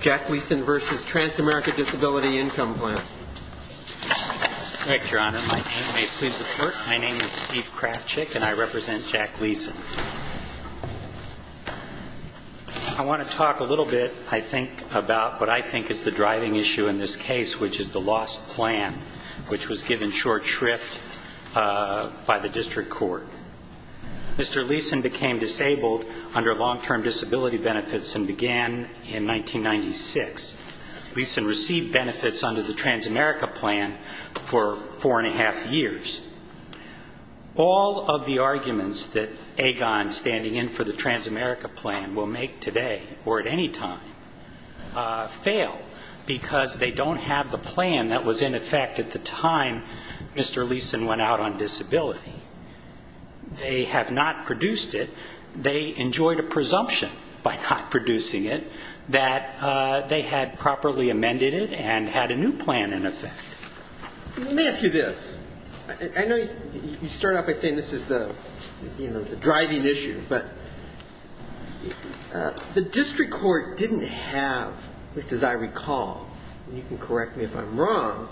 Jack Leeson v. Transamerica Disability Income Plan My name is Steve Krafchick and I represent Jack Leeson. I want to talk a little bit, I think, about what I think is the driving issue in this case, which is the lost plan, which was given short shrift by the District Court. Mr. Leeson became disabled under long-term disability benefits and began in 1996. Leeson received benefits under the Transamerica Plan for four and a half years. All of the arguments that Agon, standing in for the Transamerica Plan, will make today or at any time fail because they don't have the plan that was in effect at the time Mr. Leeson went out on disability. They have not produced it. They enjoyed a presumption by not producing it that they had properly amended it and had a new plan in effect. Let me ask you this. I know you start out by saying this is the driving issue, but the District Court didn't have, at least as I recall, and you can correct me if I'm wrong,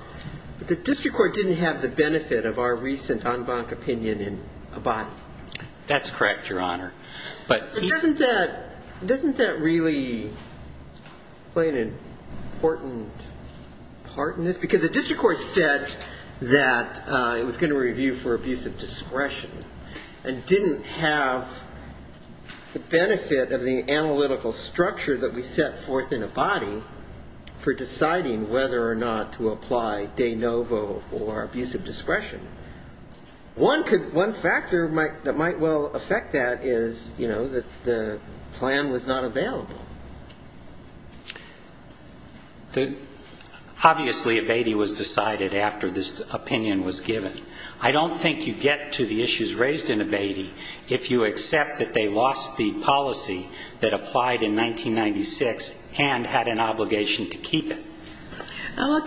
but the District Court didn't have the benefit of our recent en banc opinion in abiding. That's correct, Your Honor. But doesn't that really play an important part in this? Because the District Court said that it was going to review for abuse of discretion and didn't have the benefit of the analytical structure that we set forth in abiding for deciding whether or not to apply de novo or abuse of discretion. One factor that might well affect that is, you know, that the plan was not available. Obviously, abating was decided after this opinion was given. I don't think you get to the issues raised in abating if you accept that they lost the policy that applied in 1996 and had an obligation to keep it.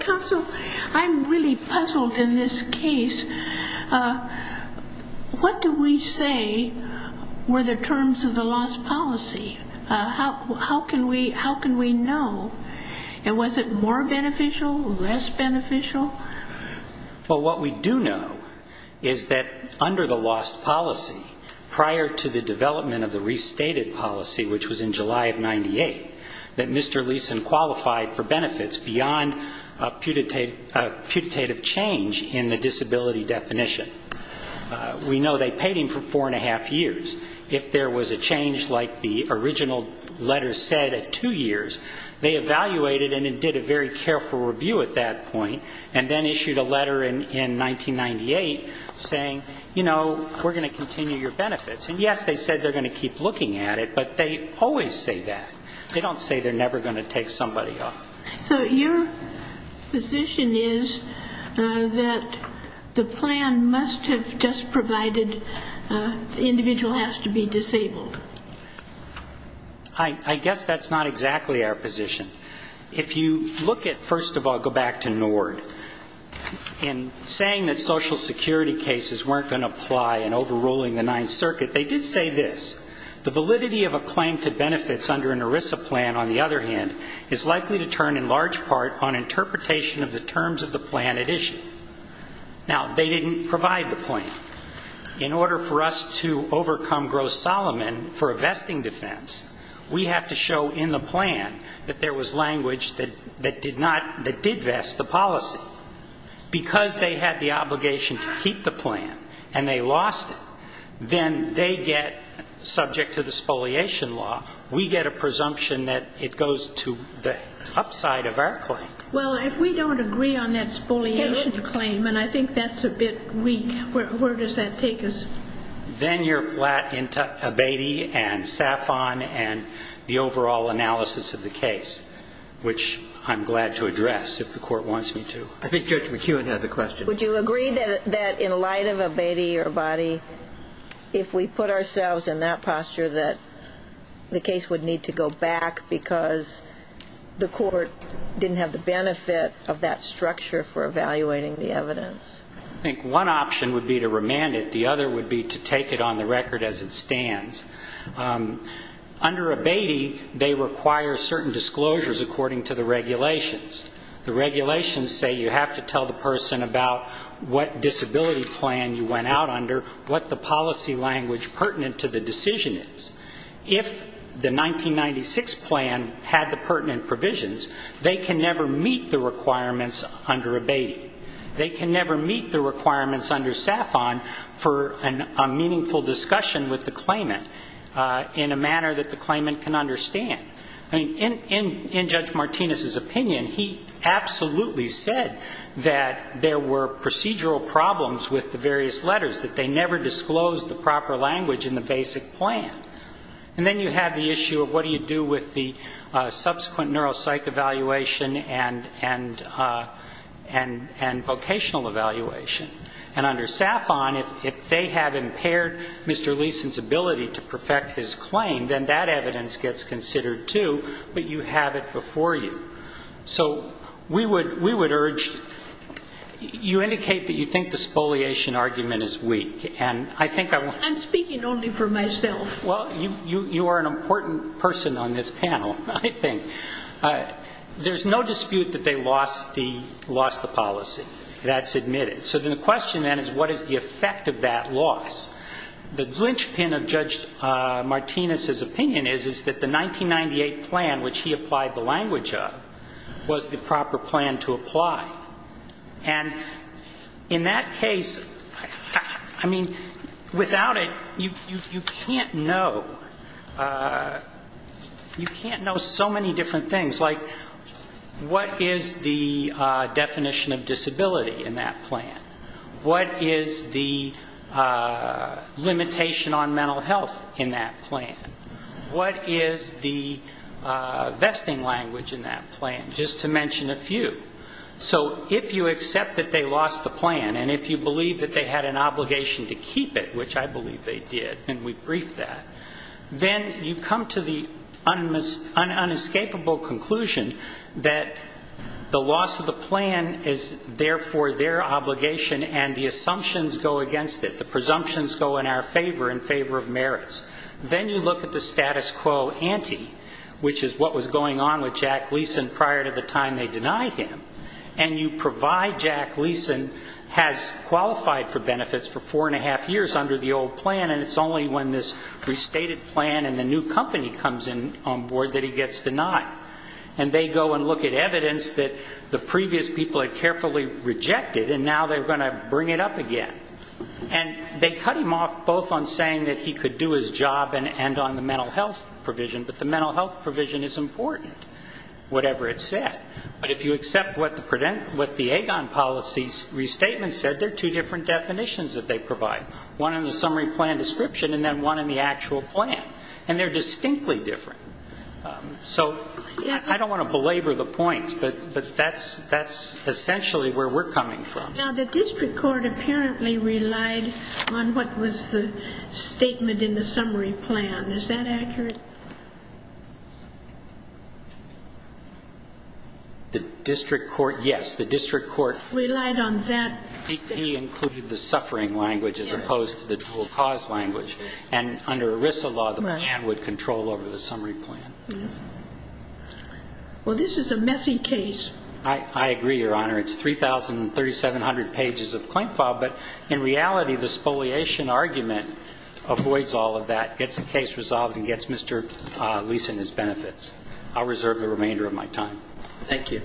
Counsel, I'm really puzzled in this case. What do we say were the terms of the lost policy? How can we know? Was it more beneficial, less beneficial? Well, what we do know is that under the lost policy, prior to the development of the restated policy, which was in July of 98, that Mr. Leeson qualified for benefits beyond a putative change in the disability definition. We know they paid him for four and a half years. If there was a change like the original letter said at two years, they evaluated and did a very careful review at that point and then issued a letter in 1998 saying, you know, we're going to continue your benefits. And yes, they said they're going to keep looking at it, but they always say that. They don't say they're never going to take somebody off. So your position is that the plan must have just provided the individual has to be disabled? I guess that's not exactly our position. If you look at, first of all, go back to NORD, in saying that Social Security cases weren't going to apply in overruling the Ninth Circuit, they did say this, the validity of a claim to benefits under an ERISA plan, on the other hand, is likely to turn in large part on interpretation of the terms of the plan at issue. Now they didn't provide the plan. In order for us to overcome gross Solomon for a vesting defense, we have to show in the plan that there was language that did not, that did vest the policy. Because they had the obligation to keep the plan and they lost it, then they get, subject to the spoliation law, we get a presumption that it goes to the upside of our claim. Well, if we don't agree on that spoliation claim, and I think that's a bit weak, where does that take us? Then you're flat into Abatey and Safon and the overall analysis of the case, which I'm glad to address if the court wants me to. I think Judge McEwen has a question. Would you agree that in light of Abatey or Boddy, if we put ourselves in that posture that the case would need to go back because the court didn't have the benefit of that structure for evaluating the evidence? I think one option would be to remand it. The other would be to take it on the record as it stands. Under Abatey, they require certain disclosures according to the regulations. The regulations say you have to tell the person about what disability plan you went out under, what the policy language pertinent to the decision is. If the 1996 plan had the pertinent provisions, they can never meet the requirements under Abatey. They can never meet the requirements under Safon for a meaningful discussion with the claimant in a manner that the claimant can understand. In Judge Martinez's opinion, he absolutely said that there were procedural problems with the various letters, that they never disclosed the proper language in the basic plan. And then you have the issue of what do you do with the subsequent neuropsych evaluation and vocational evaluation. And under Safon, if they have impaired Mr. Leeson's ability to perfect his claim, then that evidence gets considered, too, but you have it before you. So we would urge, you indicate that you think the spoliation argument is weak. And I think I want to... I'm speaking only for myself. Well, you are an important person on this panel, I think. There's no dispute that they lost the policy. That's admitted. So then the question then is what is the effect of that loss? The glinch pin of Judge Martinez's opinion is, is that the 1998 plan, which he applied the language of, was the proper plan to apply. And in that case, I mean, without it, you can't know. You can't know so many different things, like what is the definition of disability in that plan? What is the limitation on mental health in that plan? What is the vesting language in that plan? Just to mention a few. So if you accept that they lost the plan, and if you believe that they had an obligation to keep it, which I believe they did, and we briefed that, then you come to the unescapable conclusion that the loss of the plan is therefore their obligation, and the assumptions go against it. The presumptions go in our favor, in favor of merits. Then you look at the status quo ante, which is what was going on with Jack Leeson prior to the time they denied him, and you provide Jack Leeson has qualified for benefits for four and a half years under the old plan, and it's only when this restated plan and he gets denied. And they go and look at evidence that the previous people had carefully rejected, and now they're going to bring it up again. And they cut him off both on saying that he could do his job and on the mental health provision, but the mental health provision is important, whatever it said. But if you accept what the AGON policy restatement said, there are two different definitions that they provide. One in the summary plan description, and then one in the actual plan. And they're distinctly different. So I don't want to belabor the points, but that's essentially where we're coming from. Now, the district court apparently relied on what was the statement in the summary plan. Is that accurate? The district court, yes. The district court relied on that statement. He included the suffering language as opposed to the dual cause language. And under ERISA law, the plan would control over the summary plan. Well, this is a messy case. I agree, Your Honor. It's 3,3700 pages of claim file. But in reality, the spoliation argument avoids all of that, gets the case resolved, and gets Mr. Leeson his benefits. I'll reserve the remainder of my time. Thank you.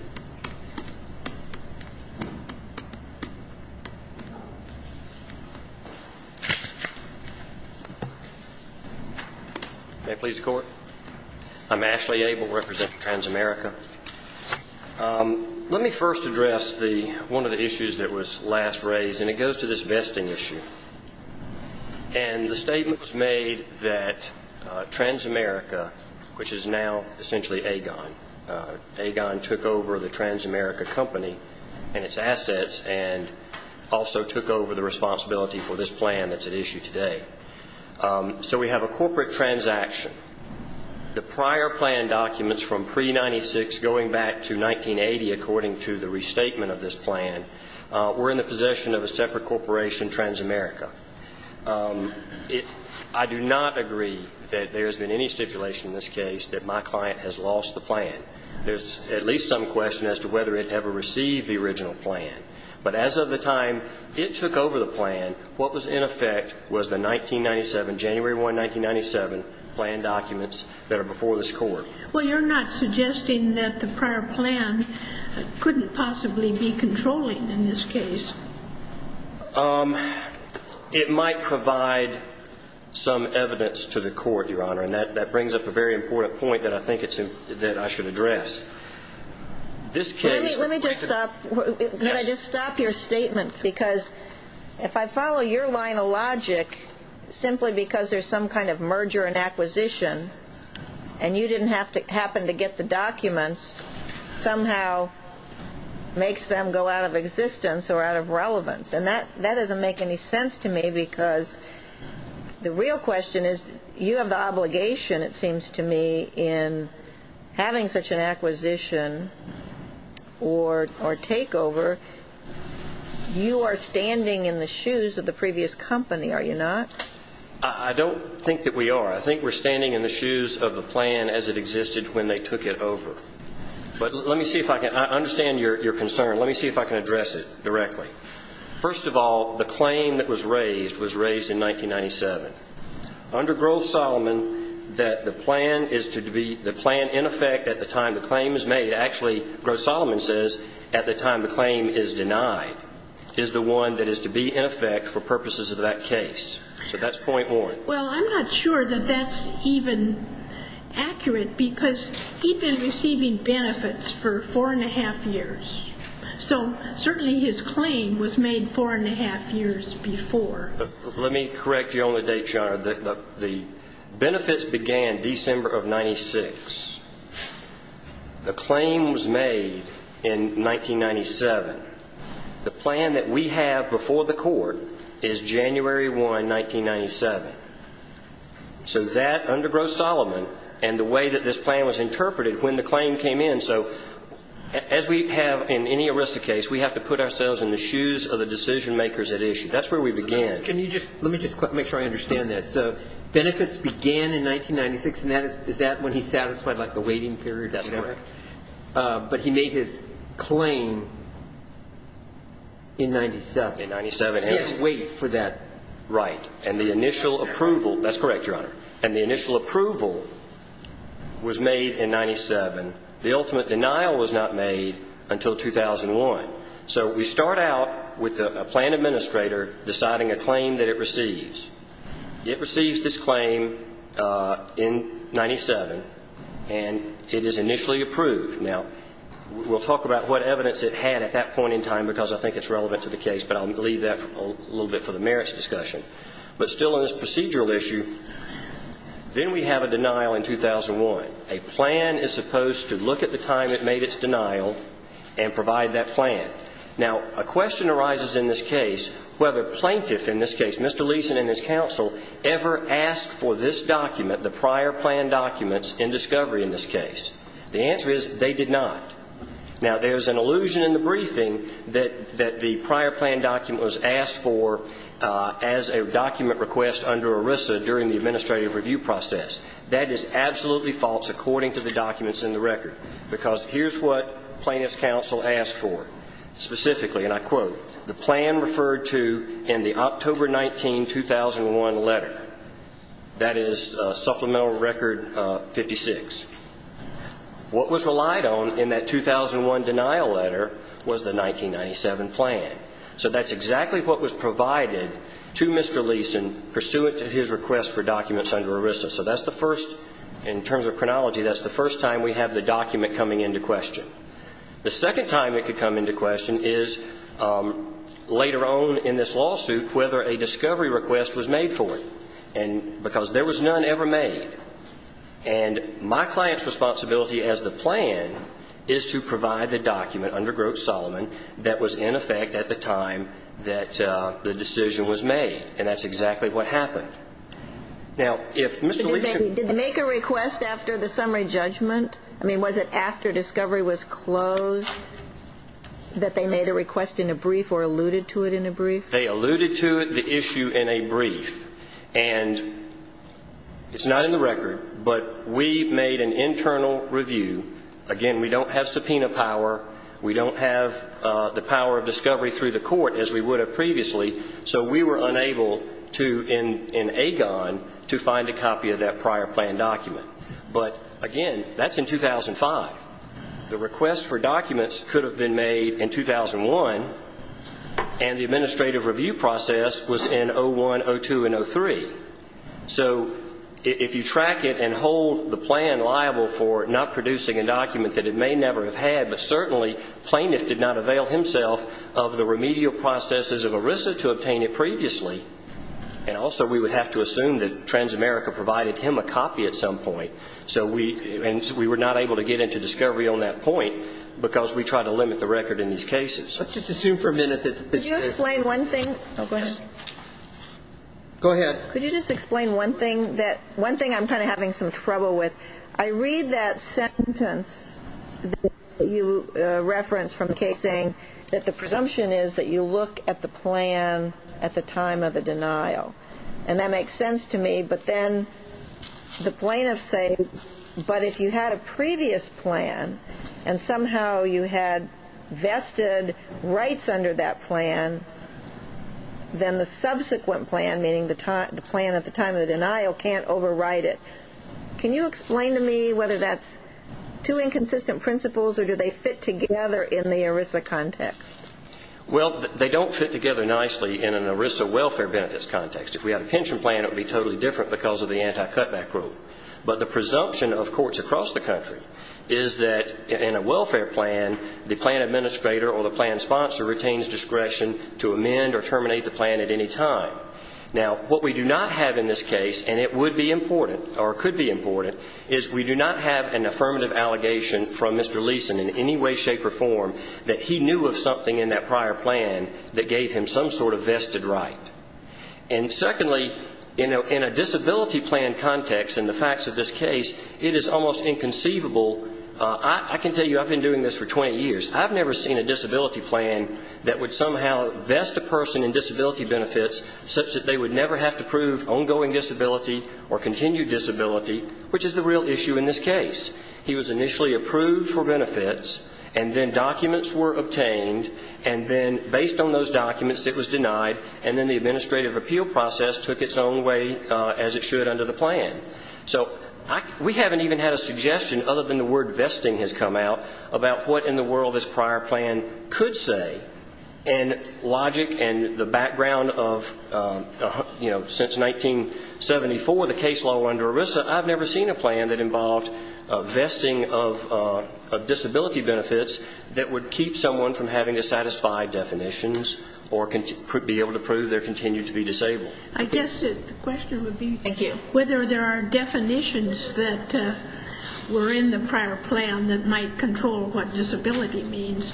May I please the court? I'm Ashley Abel, representing Transamerica. Let me first address one of the issues that was last raised. And it goes to this vesting issue. And the statement was made that Transamerica, which is now essentially Agon. Agon took over the Transamerica company and its assets, and also took over the responsibility for this plan that's at issue today. So we have a corporate transaction. The prior plan documents from pre-'96 going back to 1980, according to the restatement of this plan, were in the possession of a separate corporation, Transamerica. I do not agree that there has been any stipulation in this case that my client has lost the plan. There's at least some question as to whether it ever received the original plan. But as of the time it took over the plan, what was in effect was the 1997, January 1, 1997, plan documents that are before this court. Well, you're not suggesting that the prior plan couldn't possibly be controlling in this case. It might provide some evidence to the court, Your Honor. And that brings up a very important point that I think I should address. This case... Let me just stop your statement, because if I follow your line of logic, simply because there's some kind of merger and acquisition, and you didn't happen to get the documents, somehow makes them go out of existence or out of relevance. And that doesn't make any sense to me, because the real question is you have the obligation, it seems to me, in having such an acquisition or takeover. You are standing in the shoes of the previous company, are you not? I don't think that we are. I think we're standing in the shoes of the plan as it existed when they took it over. But let me see if I can... I understand your concern. Let me see if I can address it directly. First of all, the claim that was raised was raised in 1997. Under Groves-Solomon, that the plan is to be... The plan in effect at the time the claim is made... Actually, Groves-Solomon says, at the time the claim is denied, is the one that is to be in effect for purposes of that case. So that's point one. Well, I'm not sure that that's even accurate, because he'd been receiving benefits for four and a half years. So certainly his claim was made four and a half years before. Let me correct you on the date, John. The benefits began December of 96. The claim was made in 1997. The plan that we have before the court is January 1, 1997. So that under Groves-Solomon and the way that this plan was interpreted when the claim came in. So as we have in any arrested case, we have to put ourselves in the shoes of the decision makers at issue. That's where we began. Let me just make sure I understand that. So benefits began in 1996, and is that when he satisfied the waiting period? That's correct. But he made his claim in 97. In 97. He had to wait for that. Right. And the initial approval... That's correct, Your Honor. And the initial approval was made in 97. The ultimate denial was not made until 2001. So we start out with a plan administrator deciding a claim that it receives. It receives this claim in 97, and it is initially approved. Now, we'll talk about what evidence it had at that point in time because I think it's relevant to the case, but I'll leave that a little bit for the merits discussion. But still on this procedural issue, then we have a denial in 2001. A plan is supposed to look at the time it made its denial and provide that plan. Now, a question arises in this case whether plaintiff in this case, Mr. Leeson and his counsel, ever asked for this document, the prior plan documents in discovery in this case. The answer is they did not. Now, there's an allusion in the briefing that the prior plan document was asked for as a document request under ERISA during the administrative review process. That is absolutely false according to the documents in the record because here's what plaintiff's counsel asked for specifically, and I quote, the plan referred to in the October 19, 2001 letter. That is Supplemental Record 56. What was relied on in that 2001 denial letter was the 1997 plan. So that's exactly what was provided to Mr. Leeson pursuant to his request for documents under ERISA. So that's the first, in terms of chronology, that's the first time we have the document coming into question. The second time it could come into question is later on in this lawsuit whether a discovery request was made for it because there was none ever made. And my client's responsibility as the plan is to provide the document under Grote-Solomon that was in effect at the time that the decision was made, and that's exactly what happened. Now, if Mr. Leeson... Was it after discovery was closed that they made a request in a brief or alluded to it in a brief? They alluded to it, the issue, in a brief. And it's not in the record, but we made an internal review. Again, we don't have subpoena power. We don't have the power of discovery through the court as we would have previously, so we were unable to, in AGON, to find a copy of that prior planned document. But, again, that's in 2005. The request for documents could have been made in 2001, and the administrative review process was in 01, 02, and 03. So if you track it and hold the plan liable for not producing a document that it may never have had, but certainly plaintiff did not avail himself of the remedial processes of ERISA to obtain it previously, and also we would have to assume that Transamerica provided him a copy at some point, and we were not able to get into discovery on that point because we tried to limit the record in these cases. Let's just assume for a minute that... Could you explain one thing? Go ahead. Could you just explain one thing that I'm kind of having some trouble with? I read that sentence that you referenced from the case saying that the presumption is that you look at the plan at the time of the denial, and that makes sense to me, but then the plaintiffs say, but if you had a previous plan and somehow you had vested rights under that plan, then the subsequent plan, meaning the plan at the time of the denial, can't override it. Can you explain to me whether that's two inconsistent principles, or do they fit together in the ERISA context? Well, they don't fit together nicely in an ERISA welfare benefits context. If we had a pension plan, it would be totally different because of the anti-cutback rule. But the presumption of courts across the country is that in a welfare plan, the plan administrator or the plan sponsor retains discretion to amend or terminate the plan at any time. Now, what we do not have in this case, and it would be important, or could be important, is we do not have an affirmative allegation from Mr. Leeson in any way, shape, or form that he knew of something in that prior plan that gave him some sort of vested right. And secondly, in a disability plan context, in the facts of this case, it is almost inconceivable... I can tell you I've been doing this for 20 years. I've never seen a disability plan that would somehow vest a person in disability benefits such that they would never have to prove ongoing disability or continued disability, which is the real issue in this case. He was initially approved for benefits, and then documents were obtained, and then based on those documents, it was denied, and then the administrative appeal process took its own way as it should under the plan. So we haven't even had a suggestion, other than the word vesting has come out, about what in the world this prior plan could say. And logic and the background of, you know, since 1974, the case law under ERISA, I've never seen a plan that involved vesting of disability benefits that would keep someone from having to satisfy definitions or be able to prove their continued to be disabled. I guess the question would be... Thank you. ...whether there are definitions that were in the prior plan that might control what disability means.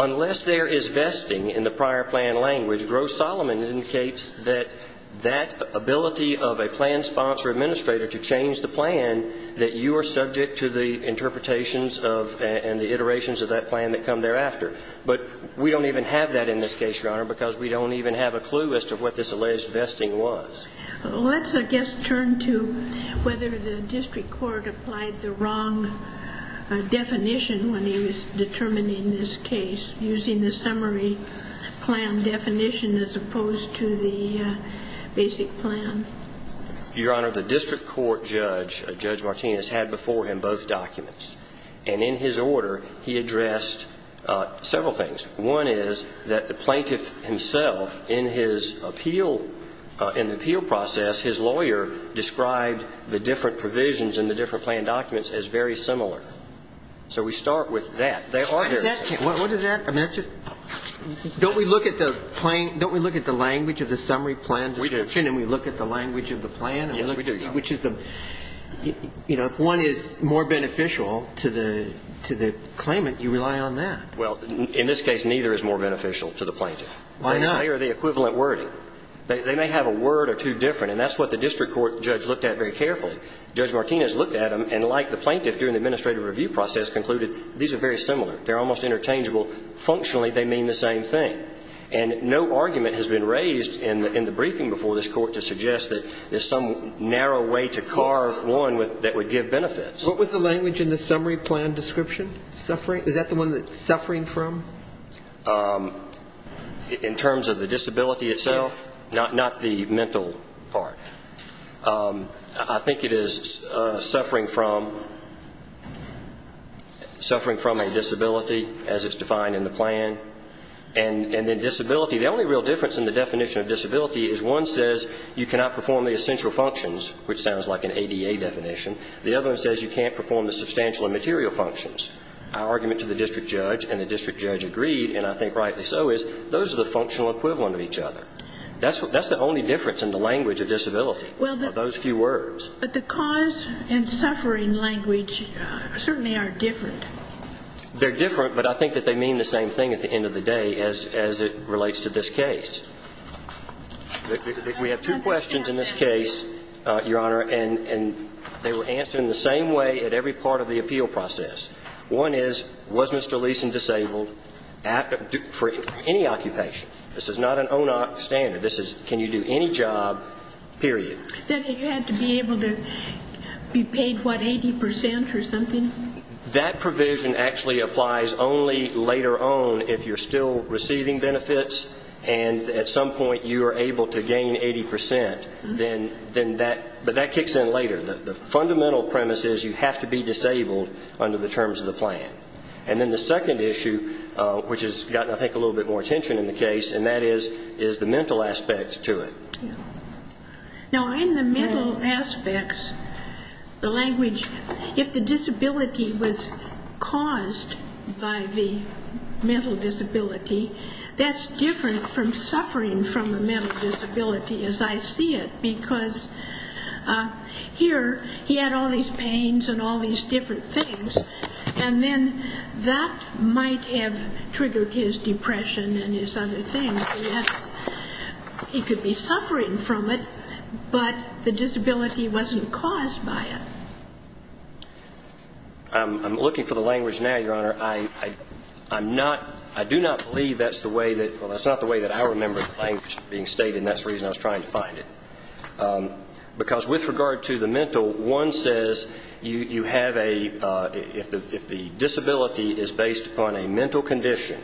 Unless there is vesting in the prior plan language, Gross-Solomon indicates that that ability of a plan sponsor administrator to change the plan, that you are subject to the interpretations and the iterations of that plan that come thereafter. But we don't even have that in this case, Your Honor, because we don't even have a clue as to what this alleged vesting was. Let's, I guess, turn to whether the district court applied the wrong definition when he was determining this case using the summary plan definition as opposed to the basic plan. Your Honor, the district court judge, Judge Martinez, had before him both documents. And in his order, he addressed several things. One is that the plaintiff himself, in his appeal, in the appeal process, his lawyer described the different provisions in the different plan documents as very similar. So we start with that. What does that... Don't we look at the language of the summary plan description and we look at the language of the plan? Yes, we do. Which is the... You know, if one is more beneficial to the claimant, you rely on that. Well, in this case, neither is more beneficial to the plaintiff. Why not? They are the equivalent wording. They may have a word or two different, and that's what the district court judge looked at very carefully. Judge Martinez looked at them, and like the plaintiff during the administrative review process, concluded these are very similar. They're almost interchangeable. Functionally, they mean the same thing. And no argument has been raised in the briefing before this court to suggest that there's some narrow way to carve one that would give benefits. What was the language in the summary plan description? Suffering... Is that the one that... Suffering from? Um... In terms of the disability itself? Not the mental part. Um... I think it is suffering from... Suffering from a disability, as it's defined in the plan. And then disability... The only real difference in the definition of disability is one says you cannot perform the essential functions, which sounds like an ADA definition. The other one says you can't perform the substantial and material functions. Our argument to the district judge and the district judge agreed, and I think rightly so, is those are the functional equivalent of each other. That's the only difference in the language of disability, are those few words. But the cause and suffering language certainly are different. They're different, but I think that they mean the same thing at the end of the day as it relates to this case. We have two questions in this case, Your Honor, and they were answered in the same way at every part of the appeal process. One is, was Mr. Leeson disabled for any occupation? This is not an ONOC standard. This is, can you do any job, period. Then he had to be able to be paid, what, 80% or something? That provision actually applies only later on if you're still receiving benefits and at some point you are able to gain 80%, then that, but that kicks in later. The fundamental premise is you have to be disabled under the terms of the plan. And then the second issue, which has gotten, I think, a little bit more attention in the case, and that is the mental aspects to it. Now in the mental aspects, the language, if the disability was caused by the mental disability, that's different from suffering from a mental disability as I see it because here he had all these pains and all these different things and then that might have triggered his depression and his other things. And that's, he could be suffering from it but the disability wasn't caused by it. I'm looking for the language now, Your Honor. I'm not, I do not believe that's the way that, well that's not the way that I remember the language being stated and that's the reason I was trying to find it. Because with regard to the mental, one says you have a, if the disability is based upon a mental condition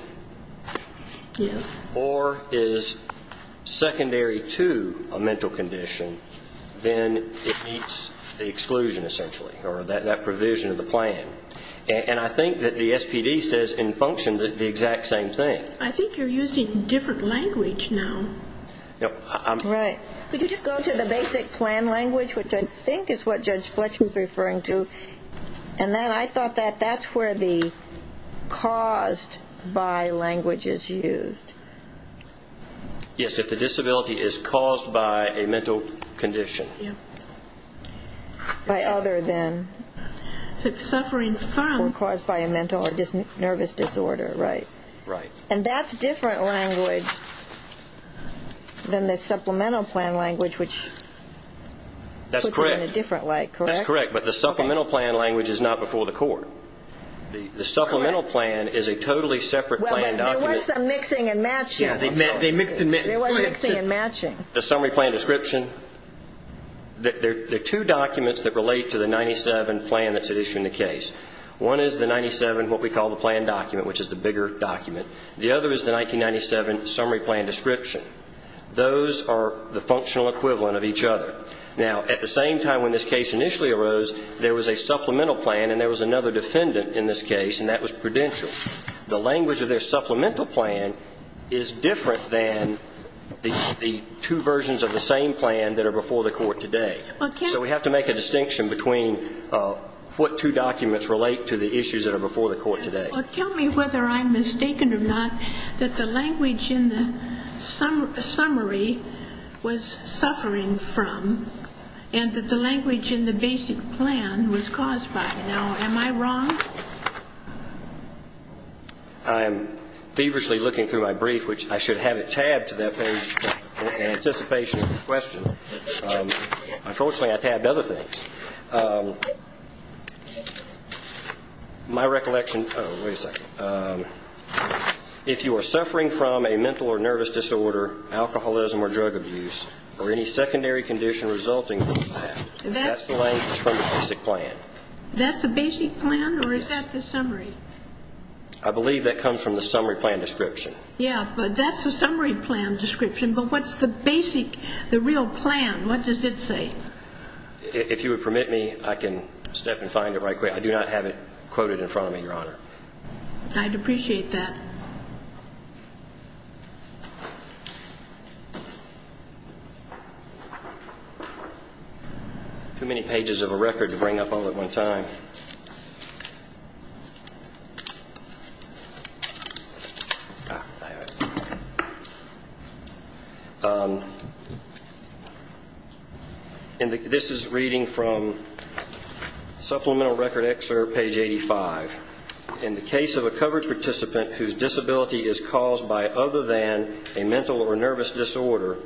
or is secondary to a mental condition, then it meets the exclusion essentially or that provision of the plan. And I think that the SPD says in function the exact same thing. I think you're using a different language now. Right. Could you just go to the basic plan language which I think is what Judge Fletcher was referring to and then I thought that that's where the caused by language is used. Yes, if the disability is caused by a mental condition. Yeah. By other than. If suffering from, or caused by a mental or nervous disorder. Right. Right. And that's different language than the supplemental plan language which puts it in a different light. That's correct. That's correct. But the supplemental plan language is not before the court. The supplemental plan is a totally separate plan document. There was some mixing and matching. Yeah, they mixed and matched. There was mixing and matching. The summary plan description, there are two documents that relate to the 97 plan that's at issue in the case. One is the 97 what we call the plan document which is the bigger document. The other is the 1997 summary plan description. Those are the functional equivalent of each other. Now, at the same time when this case initially arose there was a supplemental plan and there was another defendant in this case and that was Prudential. The language of their supplemental plan is different than the two versions of the same plan that are before the court today. So we have to make a distinction between what two documents relate to the issues that are before the court today. Tell me whether I'm mistaken or not that the language in the summary was suffering from and that the language in the basic plan was caused by. Now, am I wrong? I am feverishly looking through my brief which I should have it tabbed to that page in anticipation of the question. Unfortunately I tabbed other things. My recollection if you are suffering from a mental or nervous disorder alcoholism or drug abuse or any secondary condition resulting from that that's the language from the basic plan. That's the basic plan or is that the summary? I believe that comes from the summary plan description. Yeah, but that's the summary plan description. But what's the basic the real plan? What does it say? If you would permit me I can step and find it right quick. I do not have it quoted in front of me. This is reading from supplemental record excerpt page 85. In the case of a covered whose disability is caused by other than a mental or nervous disorder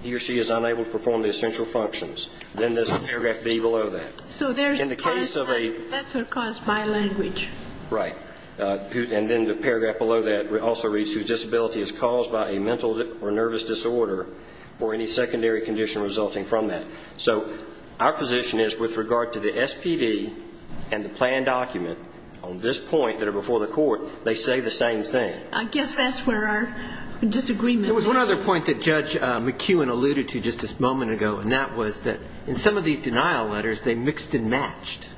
he or she is unable to perform the essential functions. Then there's paragraph B that also reads whose disability is caused by a mental or nervous disorder or any secondary condition resulting from that. So our position is with regard to the SPD and the plan document on this point that are before the court they say the same thing. I guess that's where our disagreement is. There was one other point that Judge McEwen alluded to just a moment ago and that was that in some of these denial letters they mixed and matched.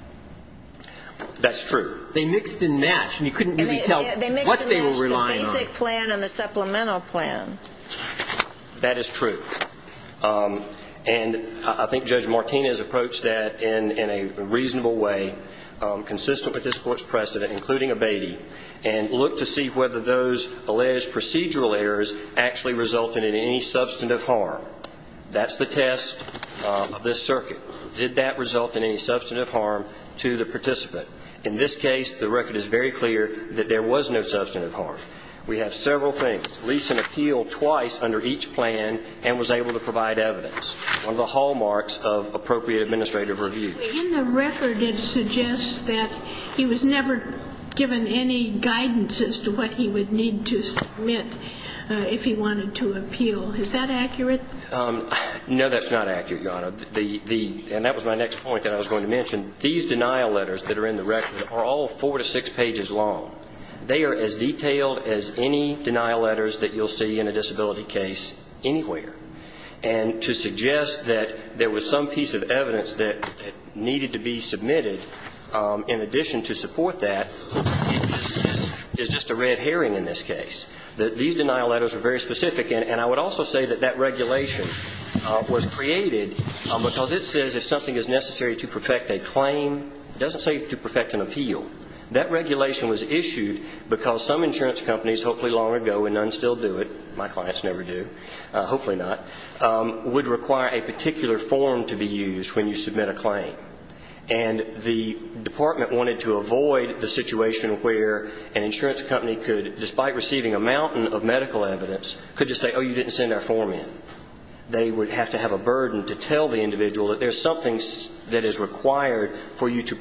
That's true. They mixed and matched and you couldn't really tell what they were relying on. The basic plan and the supplemental plan. That is true and I think Judge Martinez approached that in a reasonable way consistent with this court's precedent including abating and looked to see whether those alleged procedural errors actually resulted in any substantive harm. That's the test of this circuit. Did that result in any substantive harm to the participant? In this case the record is very clear that there was no substantive harm. We have several things. Gleason appealed twice under each case. That was my next point. These denial letters are all four to six pages long, as detailed as any denial letters you will see anywhere. To suggest that there was some piece of evidence that needed to be submitted in addition to support that is a red line. I would also say that that regulation was created because it says if something is necessary to perfect a claim, it doesn't say to perfect an appeal. That regulation was issued because some insurance companies hopefully long ago, and none still do it, my clients never do, hopefully not, would require a particular form to be used when you submit a claim. And the department wanted to avoid the situation where an insurance company could, despite receiving a mountain of medical evidence, could just say, oh, you didn't send that form in. They would have to have a burden to tell the individual that there is something that is required for you to do. And why they were so upset about that whole case. And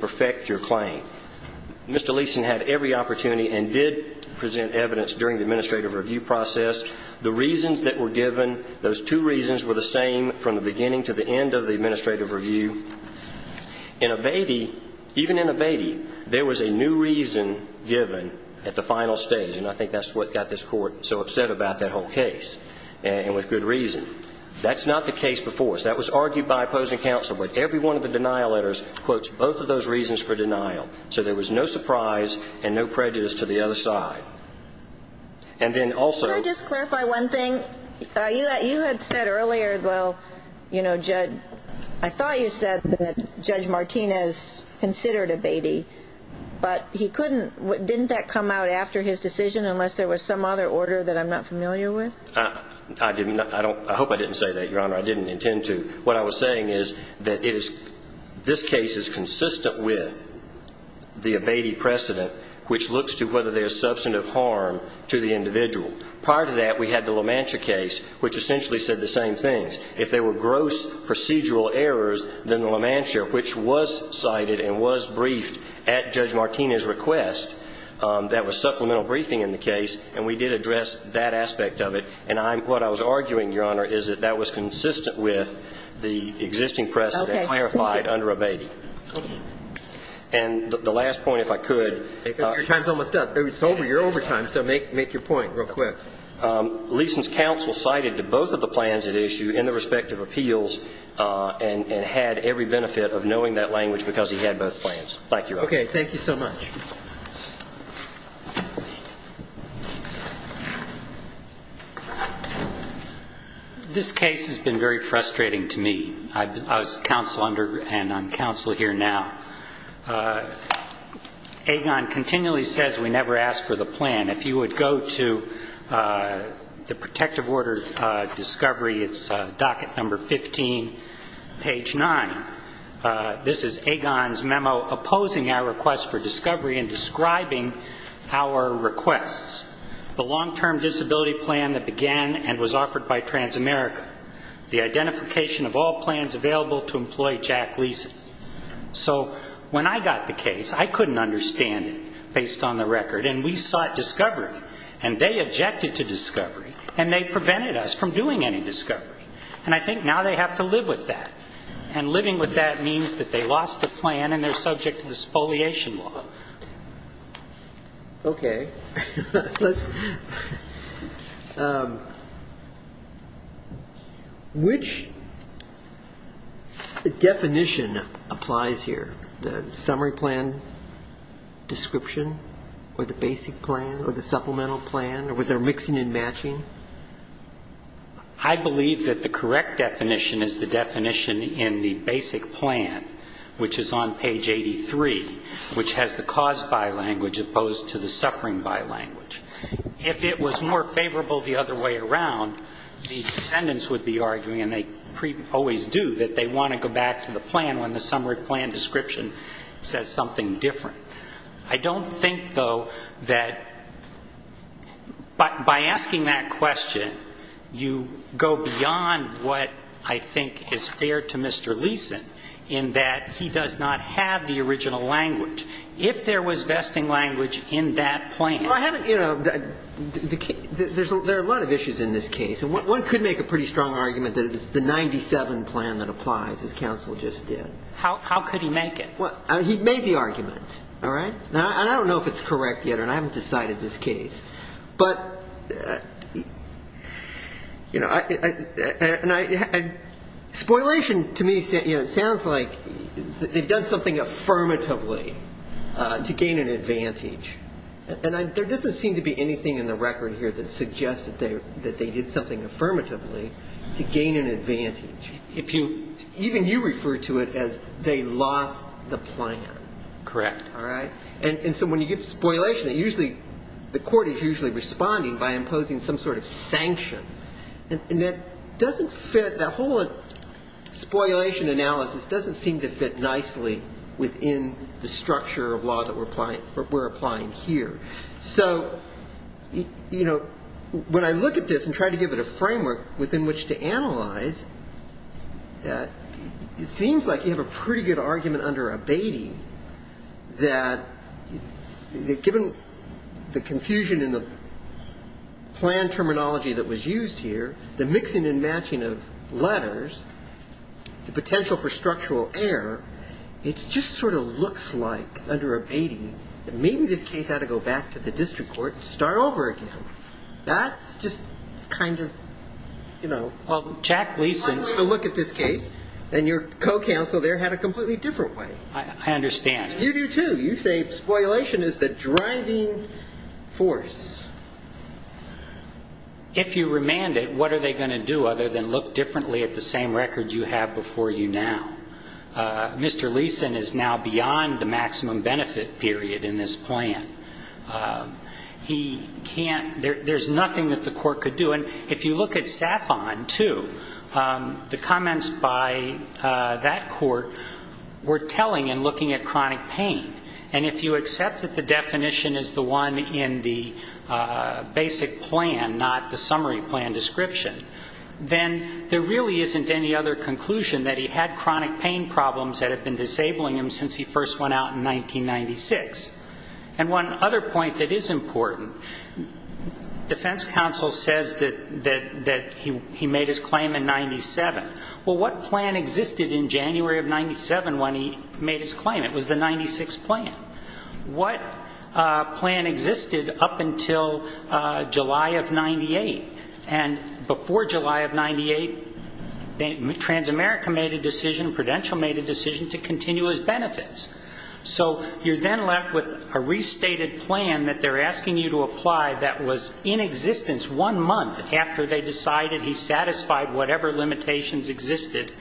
with good reason. That's not the case before. That was argued by opposing counsel, but every one of the denial letters quotes both of those reasons for denial. So there was no surprise and no prejudice to the other side. And then also Can I just clarify one thing? You had said earlier, well, you know, Judge, I thought you said that Judge Martinez considered abating, but he couldn't, didn't that come out after his decision unless there was some other order that I'm not familiar with? I hope I didn't say that, Your Honor. I didn't intend to. What I was saying is that this case is consistent with the abating precedent, which looks to whether there's substantive harm to the individual. Prior to that, we had the LaMantia case, which essentially said the same thing. And what I was arguing, Your Honor, is that that was consistent with the existing precedent clarified under abating. And the last point, if I could. Your time is almost up. It's over. You're over time, so make your point real quick. Leeson's counsel cited to both of the plans at issue in the respective appeals and had every benefit of knowing that language because he had both plans. Thank you, Your Honor. Okay. Thank you so much. This case has been very frustrating to me. I was counsel under and I'm counsel here now. Agon continually says we never ask for the plan. If you would go to the protective discovery, it's docket number 15, page 9. This is Agon's memo opposing our request for discovery and describing our requests. The long-term disability plan that began and was offered by Transamerica. The identification of all plans available to employ Jack Leeson. So when I got the case, I couldn't understand it based on the record. And we sought discovery. And they objected to discovery. And they prevented us from doing any discovery. And I think now they have to live with that. And living with that means that they lost the plan and they're subject to this foliation law. Okay. Which definition applies here? The summary plan description or the basic plan or the supplemental plan or their mixing and matching? I believe that the correct definition is the definition in the basic plan, which is on page 83, which has the cause by language opposed to the suffering by language. If it was more favorable the other way around, the defendants would be arguing, and they always do, that they want to go back to the plan when the summary plan If there was vesting language in that plan you go beyond what I think is fair to Mr. Leeson in that he does not have the original language. If there was vesting language in that plan there are a lot of issues in this case. One could argue that have the original language in that plan. I don't know if it's correct yet and I haven't decided this case. Spoilation to me sounds like they've done something affirmatively to gain an advantage. There doesn't seem to be anything in the record here that suggests they did something affirmatively to gain an advantage. Even you refer to it as they lost the plan. So when you get to spoilation the court is usually responding by imposing some sort of sanction. That doesn't fit, that whole spoilation analysis doesn't seem to fit nicely within the plan. When I look at this and try to give it a framework within which to analyze it seems like you have a pretty good argument under abating that given the confusion in the plan terminology that was used here, the mixing and matching of letters, the potential for structural error, it just sort of looks like under abating that maybe this case had to go back to the district court and start over again. That's just kind of hard to look at this case. And your co-counsel there had a completely different way. You do too. You say spoilation is the maximum benefit period now. Mr. Leeson is now beyond the maximum benefit period in this plan. There's nothing that the court could do. And if you look at SAFON too, the comments by that court were telling and looking at chronic pain. And if you accept that the definition is the one in the statute, It's not a crime. So we've had no effects on chronic pain problems that have been disabling him since he first went out in 1996. And one other point that is important, defense counsel says that he made his claim in 97. Well, what plan existed in January of 97 when he made his claim? It was the 96 plan. What plan existed up until July of 98? And before July of 98, Transamerica made a decision, Prudential made a decision to continue his benefits. So you're then left with a restated plan that they're asking you to apply that was in existence one month after they decided he satisfied whatever limitations existed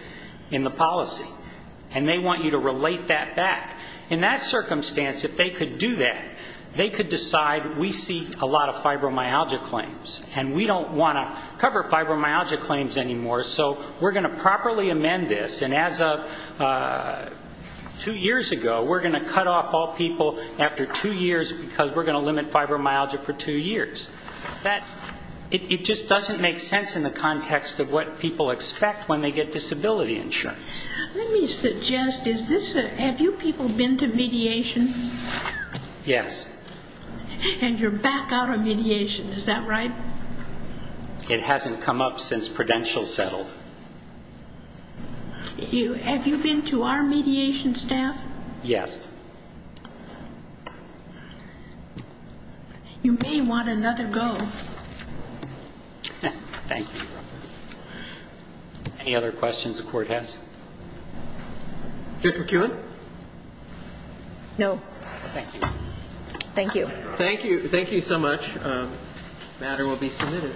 in the policy. And they want you to relate that back. In that circumstance, if they could do that, they could decide we see a lot of fibromyalgia claims. And we don't want to cover fibromyalgia claims anymore, so we're going to properly amend this. And as of two years ago, we're going to cut off all people after two years because we're going to limit fibromyalgia for two years. It just doesn't make sense in the context of what people expect when they get disability insurance. Let me suggest, have you people been to mediation? Yes. And you're back out of mediation, is that right? It hasn't come up since Prudential settled. Have you been to our mediation staff? Yes. You may want another go. Thank you. Any other questions the court has? Judge McEwen? No. Thank you. Thank you. Thank you so much. The matter will be submitted. Thank you. Thank you. Thank you. Thank you. Thank you. Thank you. Thank you.